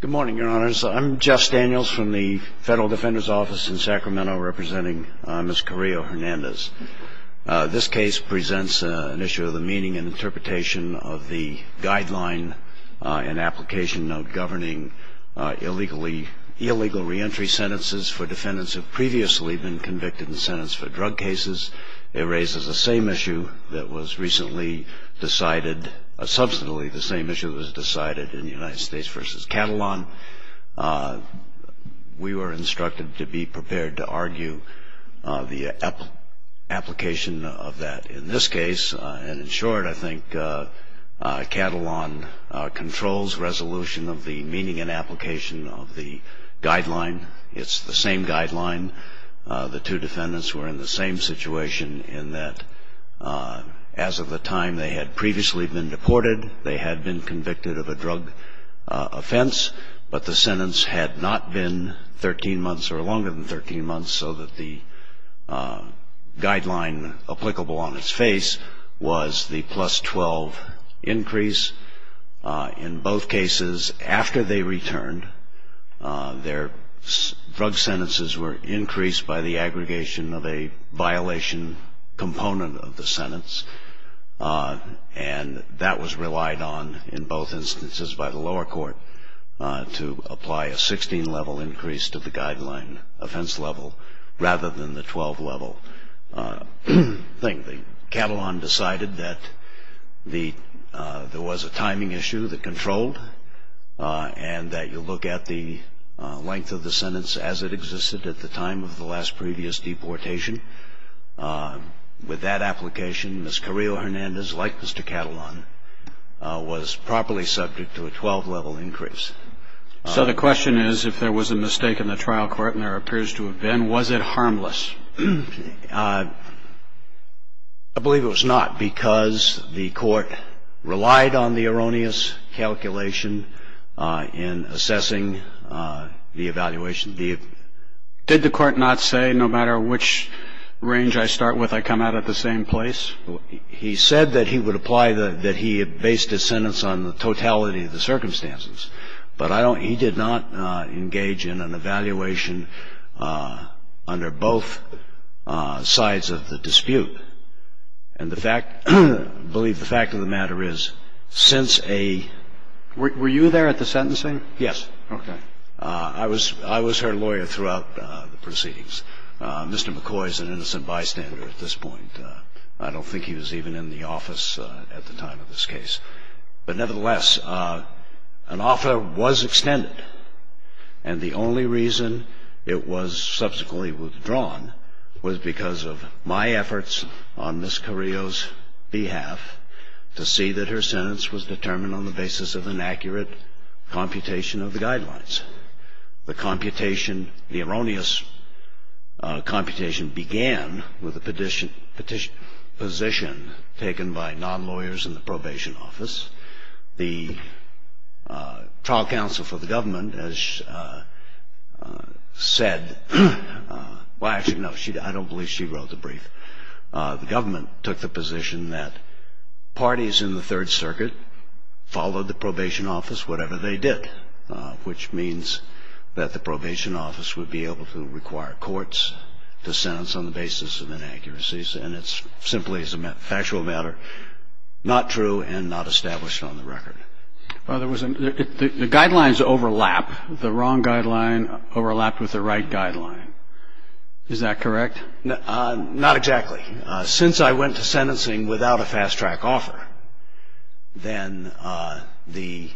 Good morning, your honors. I'm Jeff Daniels from the Federal Defender's Office in Sacramento representing Ms. Carrillo-Hernandez. This case presents an issue of the meaning and interpretation of the guideline and application of governing illegal reentry sentences for defendants who have previously been convicted and sentenced for drug cases. It raises the same issue that was recently decided, substantially the same issue that was decided in United States v. Catalan. We were instructed to be prepared to argue the application of that. In this case, and in short, I think Catalan controls resolution of the meaning and application of the guideline. It's the same guideline. The two defendants were in the same situation in that as of the time they had previously been deported, they had been convicted of a drug offense, but the sentence had not been 13 months or longer than 13 months, so that the guideline applicable on its face was the plus 12 increase. In both cases, after they returned, their drug sentences were increased by the aggregation of a violation component of the sentence, and that was relied on in both instances by the lower court to apply a 16-level increase to the guideline offense level rather than the 12-level thing. Catalan decided that there was a timing issue that controlled and that you look at the length of the sentence as it existed at the time of the last previous deportation. With that application, Ms. Carrillo-Hernandez, like Mr. Catalan, was properly subject to a 12-level increase. So the question is, if there was a mistake in the trial court, and there appears to have been, was it harmless? I believe it was not because the court relied on the erroneous calculation in assessing the evaluation. Did the court not say, no matter which range I start with, I come out at the same place? I don't think it was. I don't think it was. He said that he would apply the ‑‑ that he had based his sentence on the totality of the circumstances, but I don't ‑‑ he did not engage in an evaluation under both sides of the dispute. And the fact ‑‑ I believe the fact of the matter is, since a ‑‑ Were you there at the sentencing? Yes. Okay. I was her lawyer throughout the proceedings. Mr. McCoy is an innocent bystander at this point. I don't think he was even in the office at the time of this case. But nevertheless, an offer was extended, and the only reason it was subsequently withdrawn was because of my efforts on Ms. Carrillo's behalf to see that her sentence was determined on the basis of inaccurate computation of the guidelines. The computation, the erroneous computation, began with a petition, petition, position taken by non-lawyers in the probation office. The trial counsel for the government has said, well, actually, no, I don't believe she wrote the brief. The government took the position that parties in the Third Circuit followed the probation office whatever they did, which means that the probation office would be able to require courts to sentence on the basis of inaccuracies, and it's simply, as a factual matter, not true and not established on the record. The guidelines overlap. The wrong guideline overlapped with the right guideline. Is that correct? Not exactly. Since I went to sentencing without a fast-track offer, then the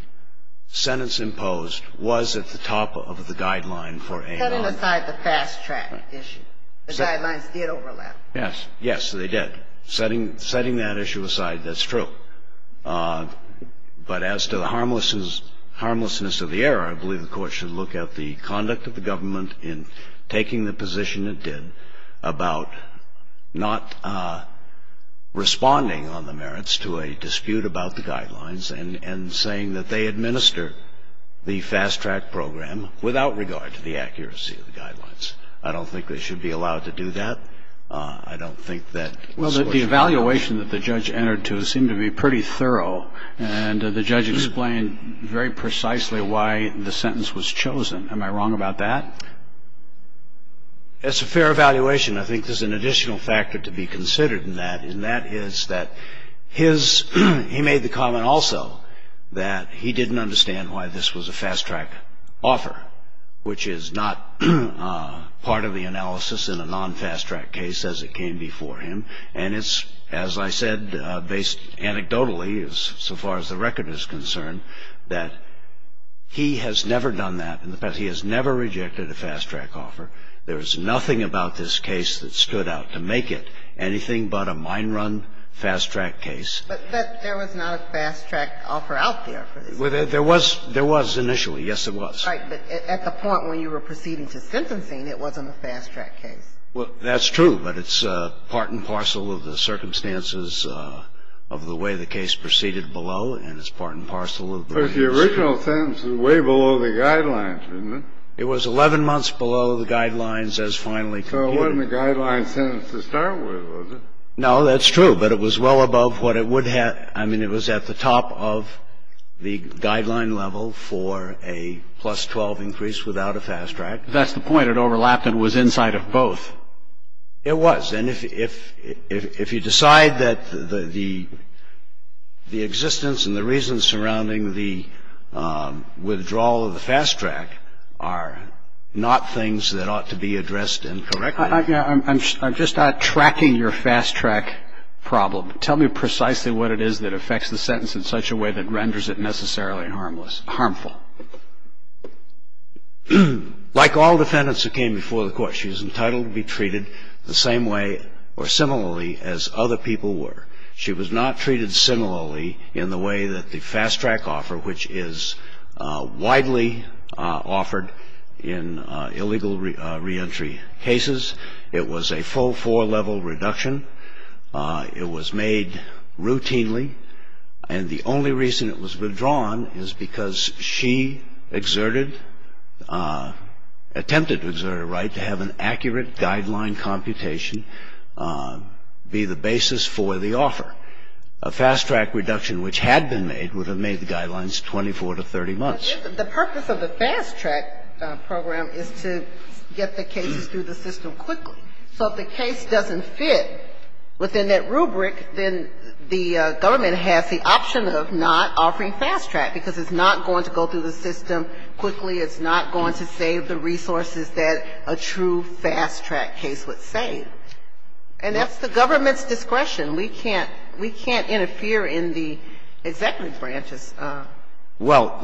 sentence imposed was at the top of the guideline for a non-lawyer. Setting aside the fast-track issue, the guidelines did overlap. Yes. Yes, they did. Setting that issue aside, that's true. But as to the harmlessness of the error, I believe the Court should look at the conduct of the government in taking the position it did about not responding on the merits to a dispute about the guidelines and saying that they administer the fast-track program without regard to the accuracy of the guidelines. I don't think they should be allowed to do that. I don't think that was what should happen. Well, the evaluation that the judge entered to seemed to be pretty thorough, and the judge explained very precisely why the sentence was chosen. Am I wrong about that? As a fair evaluation, I think there's an additional factor to be considered in that, and that is that he made the comment also that he didn't understand why this was a fast-track offer, which is not part of the analysis in a non-fast-track case as it came before him. And it's, as I said, based anecdotally, so far as the record is concerned, that he has never done that in the past. He has never rejected a fast-track offer. There is nothing about this case that stood out to make it anything but a mine-run fast-track case. But there was not a fast-track offer out there for this case. Well, there was initially. Yes, it was. Right. But at the point when you were proceeding to sentencing, it wasn't a fast-track case. Well, that's true, but it's part and parcel of the circumstances of the way the case proceeded below, and it's part and parcel of the way the case proceeded. But the original sentence was way below the guidelines, wasn't it? It was 11 months below the guidelines as finally computed. So it wasn't a guideline sentence to start with, was it? No, that's true, but it was well above what it would have. I mean, it was at the top of the guideline level for a plus-12 increase without a fast-track. But that's the point. It overlapped and was inside of both. It was. And if you decide that the existence and the reasons surrounding the withdrawal of the fast-track are not things that ought to be addressed and corrected. I'm just not tracking your fast-track problem. Tell me precisely what it is that affects the sentence in such a way that renders it necessarily harmful. Like all defendants who came before the court, she was entitled to be treated the same way or similarly as other people were. She was not treated similarly in the way that the fast-track offer, which is widely offered in illegal reentry cases. It was a full four-level reduction. It was made routinely. And the only reason it was withdrawn is because she exerted, attempted to exert a right to have an accurate guideline computation be the basis for the offer. A fast-track reduction which had been made would have made the guidelines 24 to 30 months. The purpose of the fast-track program is to get the cases through the system quickly. So if the case doesn't fit within that rubric, then the government has the option of not offering fast-track because it's not going to go through the system quickly. It's not going to save the resources that a true fast-track case would save. And that's the government's discretion. We can't interfere in the executive branch's decision. Well,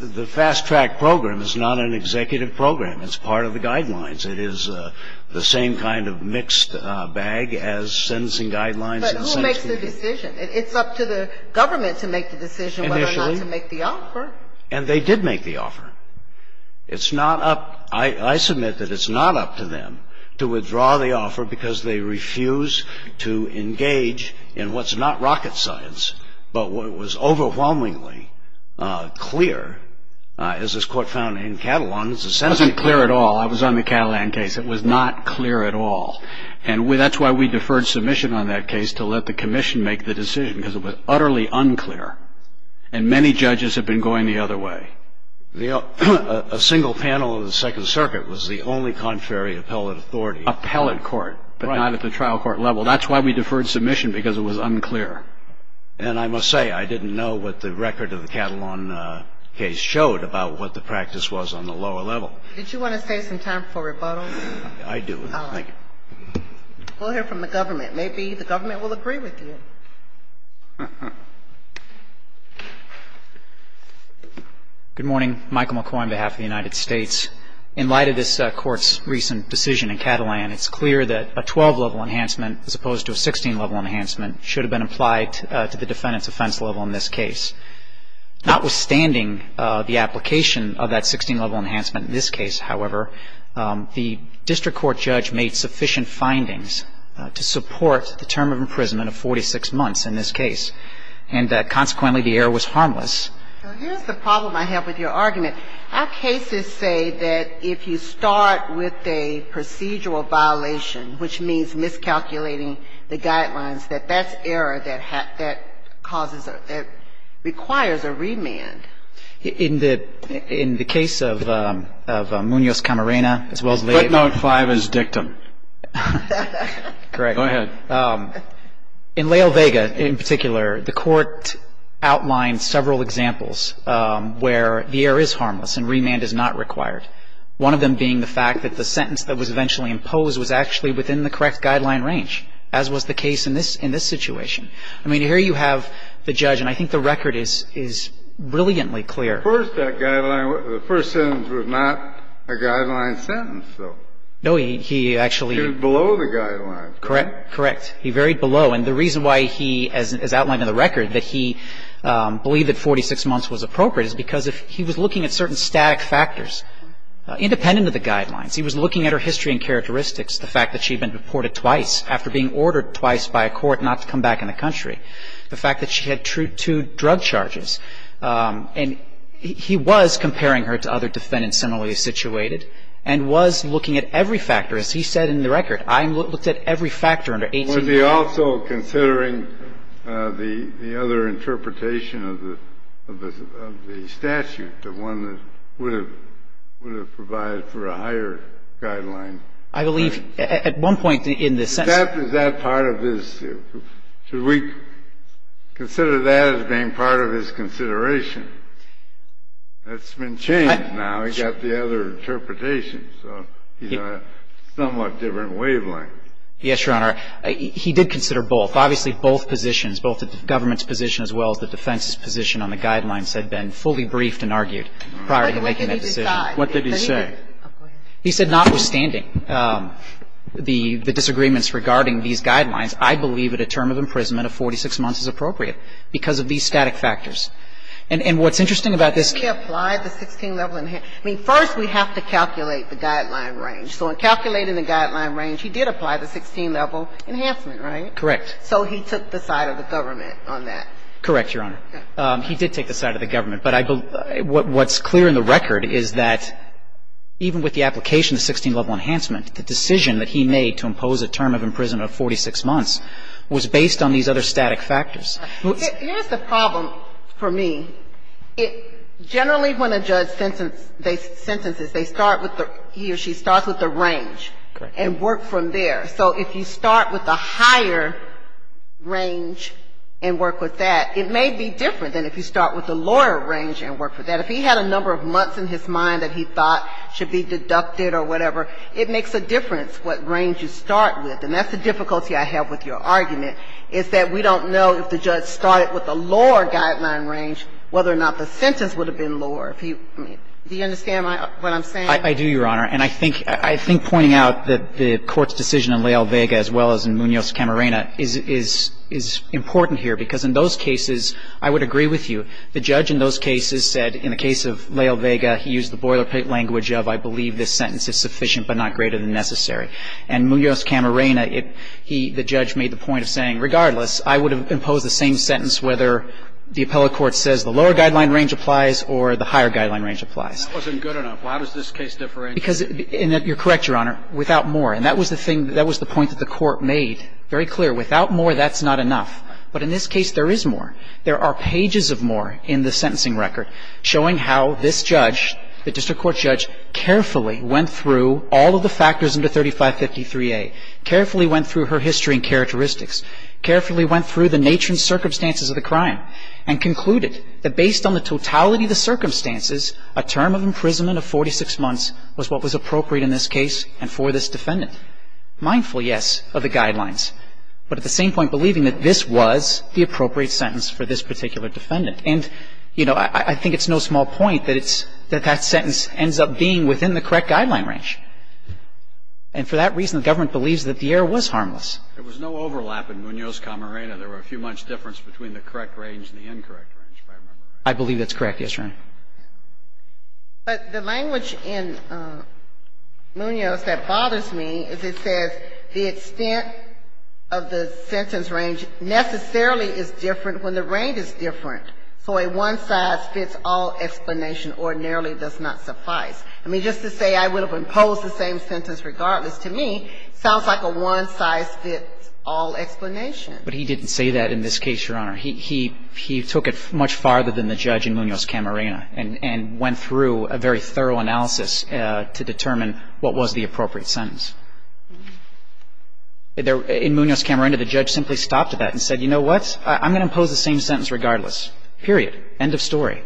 the fast-track program is not an executive program. It's part of the guidelines. It is the same kind of mixed bag as sentencing guidelines. But who makes the decision? It's up to the government to make the decision whether or not to make the offer. And they did make the offer. It's not up to them. I submit that it's not up to them to withdraw the offer because they refuse to engage in what's not rocket science, but what was overwhelmingly clear, as this Court found in Catalan, is the sentencing. It wasn't clear at all. It was on the Catalan case. It was not clear at all. And that's why we deferred submission on that case to let the Commission make the decision because it was utterly unclear. And many judges have been going the other way. A single panel of the Second Circuit was the only contrary appellate authority. Appellate court, but not at the trial court level. That's why we deferred submission because it was unclear. And I must say, I didn't know what the record of the Catalan case showed about what the practice was on the lower level. Did you want to save some time for rebuttal? I do. Thank you. We'll hear from the government. Maybe the government will agree with you. Good morning. Michael McCoy on behalf of the United States. In light of this Court's recent decision in Catalan, it's clear that a 12-level enhancement, as opposed to a 16-level enhancement, should have been applied to the defendant's offense level in this case. Notwithstanding the application of that 16-level enhancement in this case, however, the district court judge made sufficient findings to support the term of imprisonment of 46 months in this case, and consequently the error was harmless. So here's the problem I have with your argument. Our cases say that if you start with a procedural violation, which means miscalculating the guidelines, that that's error that causes or that requires a remand. In the case of Munoz-Camarena, as well as Leal Vega. Footnote 5 is dictum. Correct. Go ahead. In Leal Vega in particular, the Court outlined several examples where the error is harmless and remand is not required, one of them being the fact that the sentence that was eventually imposed was actually within the correct guideline range, as was the case in this situation. I mean, here you have the judge, and I think the record is brilliantly clear. First, that guideline, the first sentence was not a guideline sentence, though. No. He actually. It was below the guidelines. Correct. Correct. He varied below. And the reason why he, as outlined in the record, that he believed that 46 months was appropriate is because he was looking at certain static factors independent of the guidelines. He was looking at her history and characteristics, the fact that she had been deported twice after being ordered twice by a court not to come back in the country, the fact that she had two drug charges. And he was comparing her to other defendants similarly situated and was looking at every factor. As he said in the record, I looked at every factor under 18. Was he also considering the other interpretation of the statute, the one that would provide for a higher guideline? I believe at one point in the sentence. Is that part of this? Should we consider that as being part of his consideration? That's been changed now. He's got the other interpretation. So he's on a somewhat different wavelength. Yes, Your Honor. He did consider both. Obviously, both positions, both the government's position as well as the defense's position on the guidelines had been fully briefed and argued prior to making that decision. What did he say? He said notwithstanding the disagreements regarding these guidelines, I believe that a term of imprisonment of 46 months is appropriate because of these static factors. And what's interesting about this case he applied the 16-level enhancement. I mean, first we have to calculate the guideline range. So in calculating the guideline range, he did apply the 16-level enhancement, right? Correct. So he took the side of the government on that. Correct, Your Honor. He did take the side of the government. But I believe what's clear in the record is that even with the application of the 16-level enhancement, the decision that he made to impose a term of imprisonment of 46 months was based on these other static factors. Here's the problem for me. Generally, when a judge sentences, they start with the he or she starts with the range. Correct. And work from there. So if you start with the higher range and work with that, it may be different than if you start with the lower range and work with that. If he had a number of months in his mind that he thought should be deducted or whatever, it makes a difference what range you start with. And that's the difficulty I have with your argument, is that we don't know if the judge started with a lower guideline range whether or not the sentence would have been lower. I mean, do you understand what I'm saying? I do, Your Honor. And I think pointing out that the Court's decision in Leal-Vega as well as in Munoz-Camarena is important here because in those cases, I would agree with you, the judge in those cases said in the case of Leal-Vega, he used the boilerplate language of I believe this sentence is sufficient but not greater than necessary. And Munoz-Camarena, the judge made the point of saying, regardless, I would have imposed the same sentence whether the appellate court says the lower guideline range applies or the higher guideline range applies. That wasn't good enough. How does this case differ in? Because, and you're correct, Your Honor, without more. And that was the point that the Court made very clear. Without more, that's not enough. But in this case, there is more. There are pages of more in the sentencing record showing how this judge, the district court judge, carefully went through all of the factors under 3553A, carefully went through her history and characteristics, carefully went through the nature and circumstances of the crime, and concluded that based on the totality of the circumstances, a term of imprisonment of 46 months was what was appropriate in this case and for this defendant. Mindful, yes, of the guidelines. But at the same point, believing that this was the appropriate sentence for this particular defendant. And, you know, I think it's no small point that it's that that sentence ends up being within the correct guideline range. And for that reason, the government believes that the error was harmless. There was no overlap in Munoz-Camarena. There were a few months' difference between the correct range and the incorrect range, if I remember. I believe that's correct, yes, Your Honor. But the language in Munoz that bothers me is it says the extent of the sentence range necessarily is different when the range is different. So a one-size-fits-all explanation ordinarily does not suffice. I mean, just to say I would have imposed the same sentence regardless, to me, sounds like a one-size-fits-all explanation. But he didn't say that in this case, Your Honor. He took it much farther than the judge in Munoz-Camarena and went through a very thorough analysis to determine what was the appropriate sentence. In Munoz-Camarena, the judge simply stopped at that and said, you know what, I'm going to impose the same sentence regardless. Period. End of story.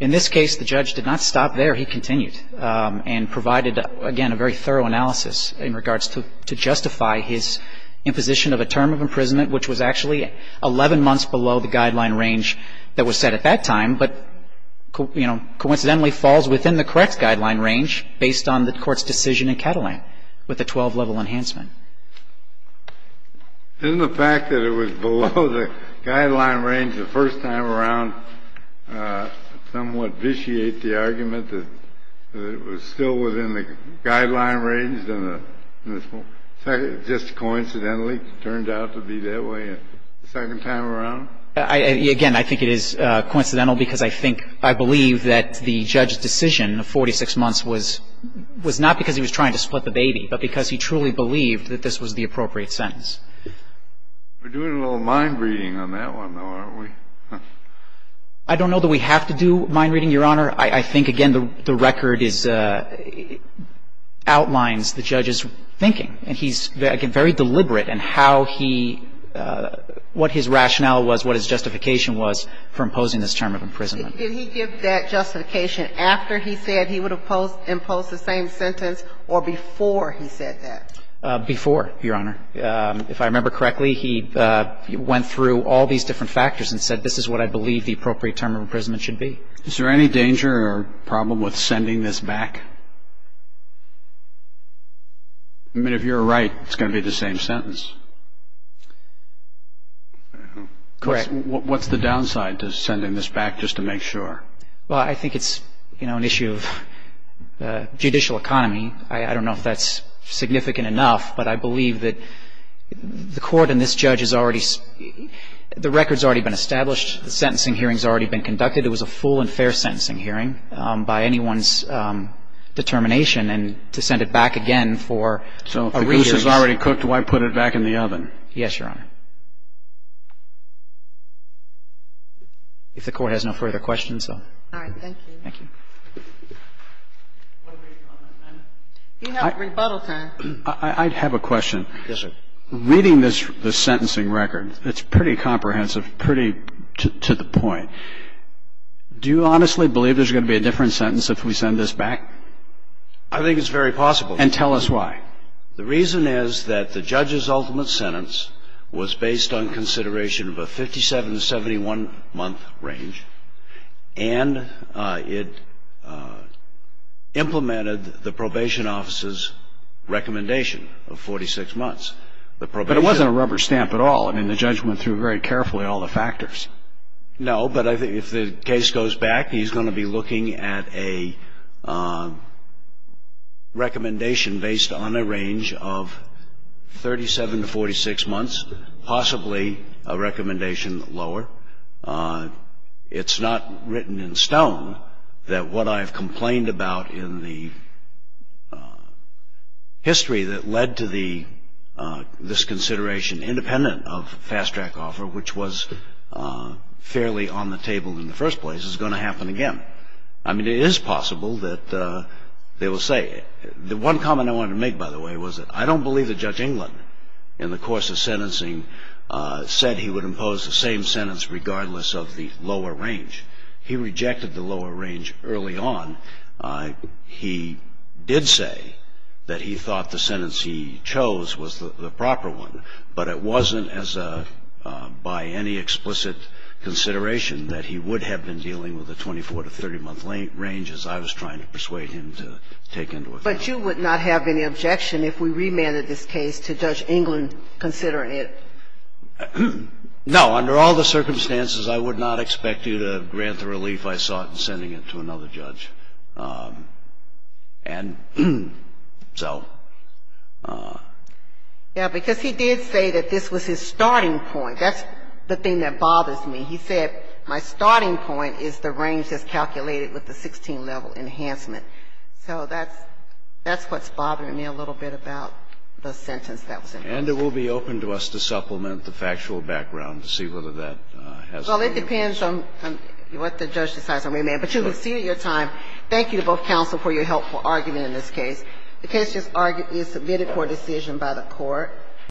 In this case, the judge did not stop there. He continued and provided, again, a very thorough analysis in regards to justify his imposition of a term of imprisonment, which was actually 11 months below the guideline range that was set at that time, but, you know, coincidentally falls within the correct guideline range based on the Court's decision in Catalan with the 12-level enhancement. Isn't the fact that it was below the guideline range the first time around somewhat to vitiate the argument that it was still within the guideline range just coincidentally turned out to be that way the second time around? Again, I think it is coincidental because I think I believe that the judge's decision of 46 months was not because he was trying to split the baby, but because he truly believed that this was the appropriate sentence. We're doing a little mind-reading on that one, though, aren't we? I don't know that we have to do mind-reading, Your Honor. I think, again, the record is – outlines the judge's thinking, and he's, again, very deliberate in how he – what his rationale was, what his justification was for imposing this term of imprisonment. Did he give that justification after he said he would impose the same sentence or before he said that? Before, Your Honor. If I remember correctly, he went through all these different factors and said, this is what I believe the appropriate term of imprisonment should be. Is there any danger or problem with sending this back? I mean, if you're right, it's going to be the same sentence. Correct. What's the downside to sending this back just to make sure? Well, I think it's, you know, an issue of judicial economy. I don't know if that's significant enough, but I believe that the Court and this judge has already – the record's already been established. The sentencing hearing's already been conducted. It was a full and fair sentencing hearing by anyone's determination. And to send it back again for a review is – So if the goose is already cooked, why put it back in the oven? Yes, Your Honor, if the Court has no further questions. All right. Thank you. Thank you. You have rebuttal time. I have a question. Yes, sir. Reading this sentencing record, it's pretty comprehensive, pretty to the point. Do you honestly believe there's going to be a different sentence if we send this back? I think it's very possible. And tell us why. The reason is that the judge's ultimate sentence was based on consideration of a 57-to-71-month range, and it implemented the probation officer's recommendation of 46 months. But it wasn't a rubber stamp at all. I mean, the judge went through very carefully all the factors. No, but I think if the case goes back, he's going to be looking at a recommendation based on a range of 37-to-46 months, possibly a recommendation lower. It's not written in stone that what I've complained about in the history that led to this consideration, independent of fast-track offer, which was fairly on the table in the first place, is going to happen again. I mean, it is possible that they will say – The one comment I wanted to make, by the way, was that I don't believe that Judge England, in the course of sentencing, said he would impose the same sentence regardless of the lower range. He rejected the lower range early on. He did say that he thought the sentence he chose was the proper one. But it wasn't as a – by any explicit consideration that he would have been dealing with a 24- to 30-month range as I was trying to persuade him to take into account. But you would not have any objection if we remanded this case to Judge England considering it? No. Under all the circumstances, I would not expect you to grant the relief I sought in sending it to another judge. And so – Yeah, because he did say that this was his starting point. That's the thing that bothers me. He said my starting point is the range that's calculated with the 16-level enhancement. So that's what's bothering me a little bit about the sentence that was imposed. And it will be open to us to supplement the factual background to see whether that has – Well, it depends on what the judge decides on remand. But you will see at your time. Thank you to both counsel for your helpful argument in this case. The case is submitted for decision by the Court.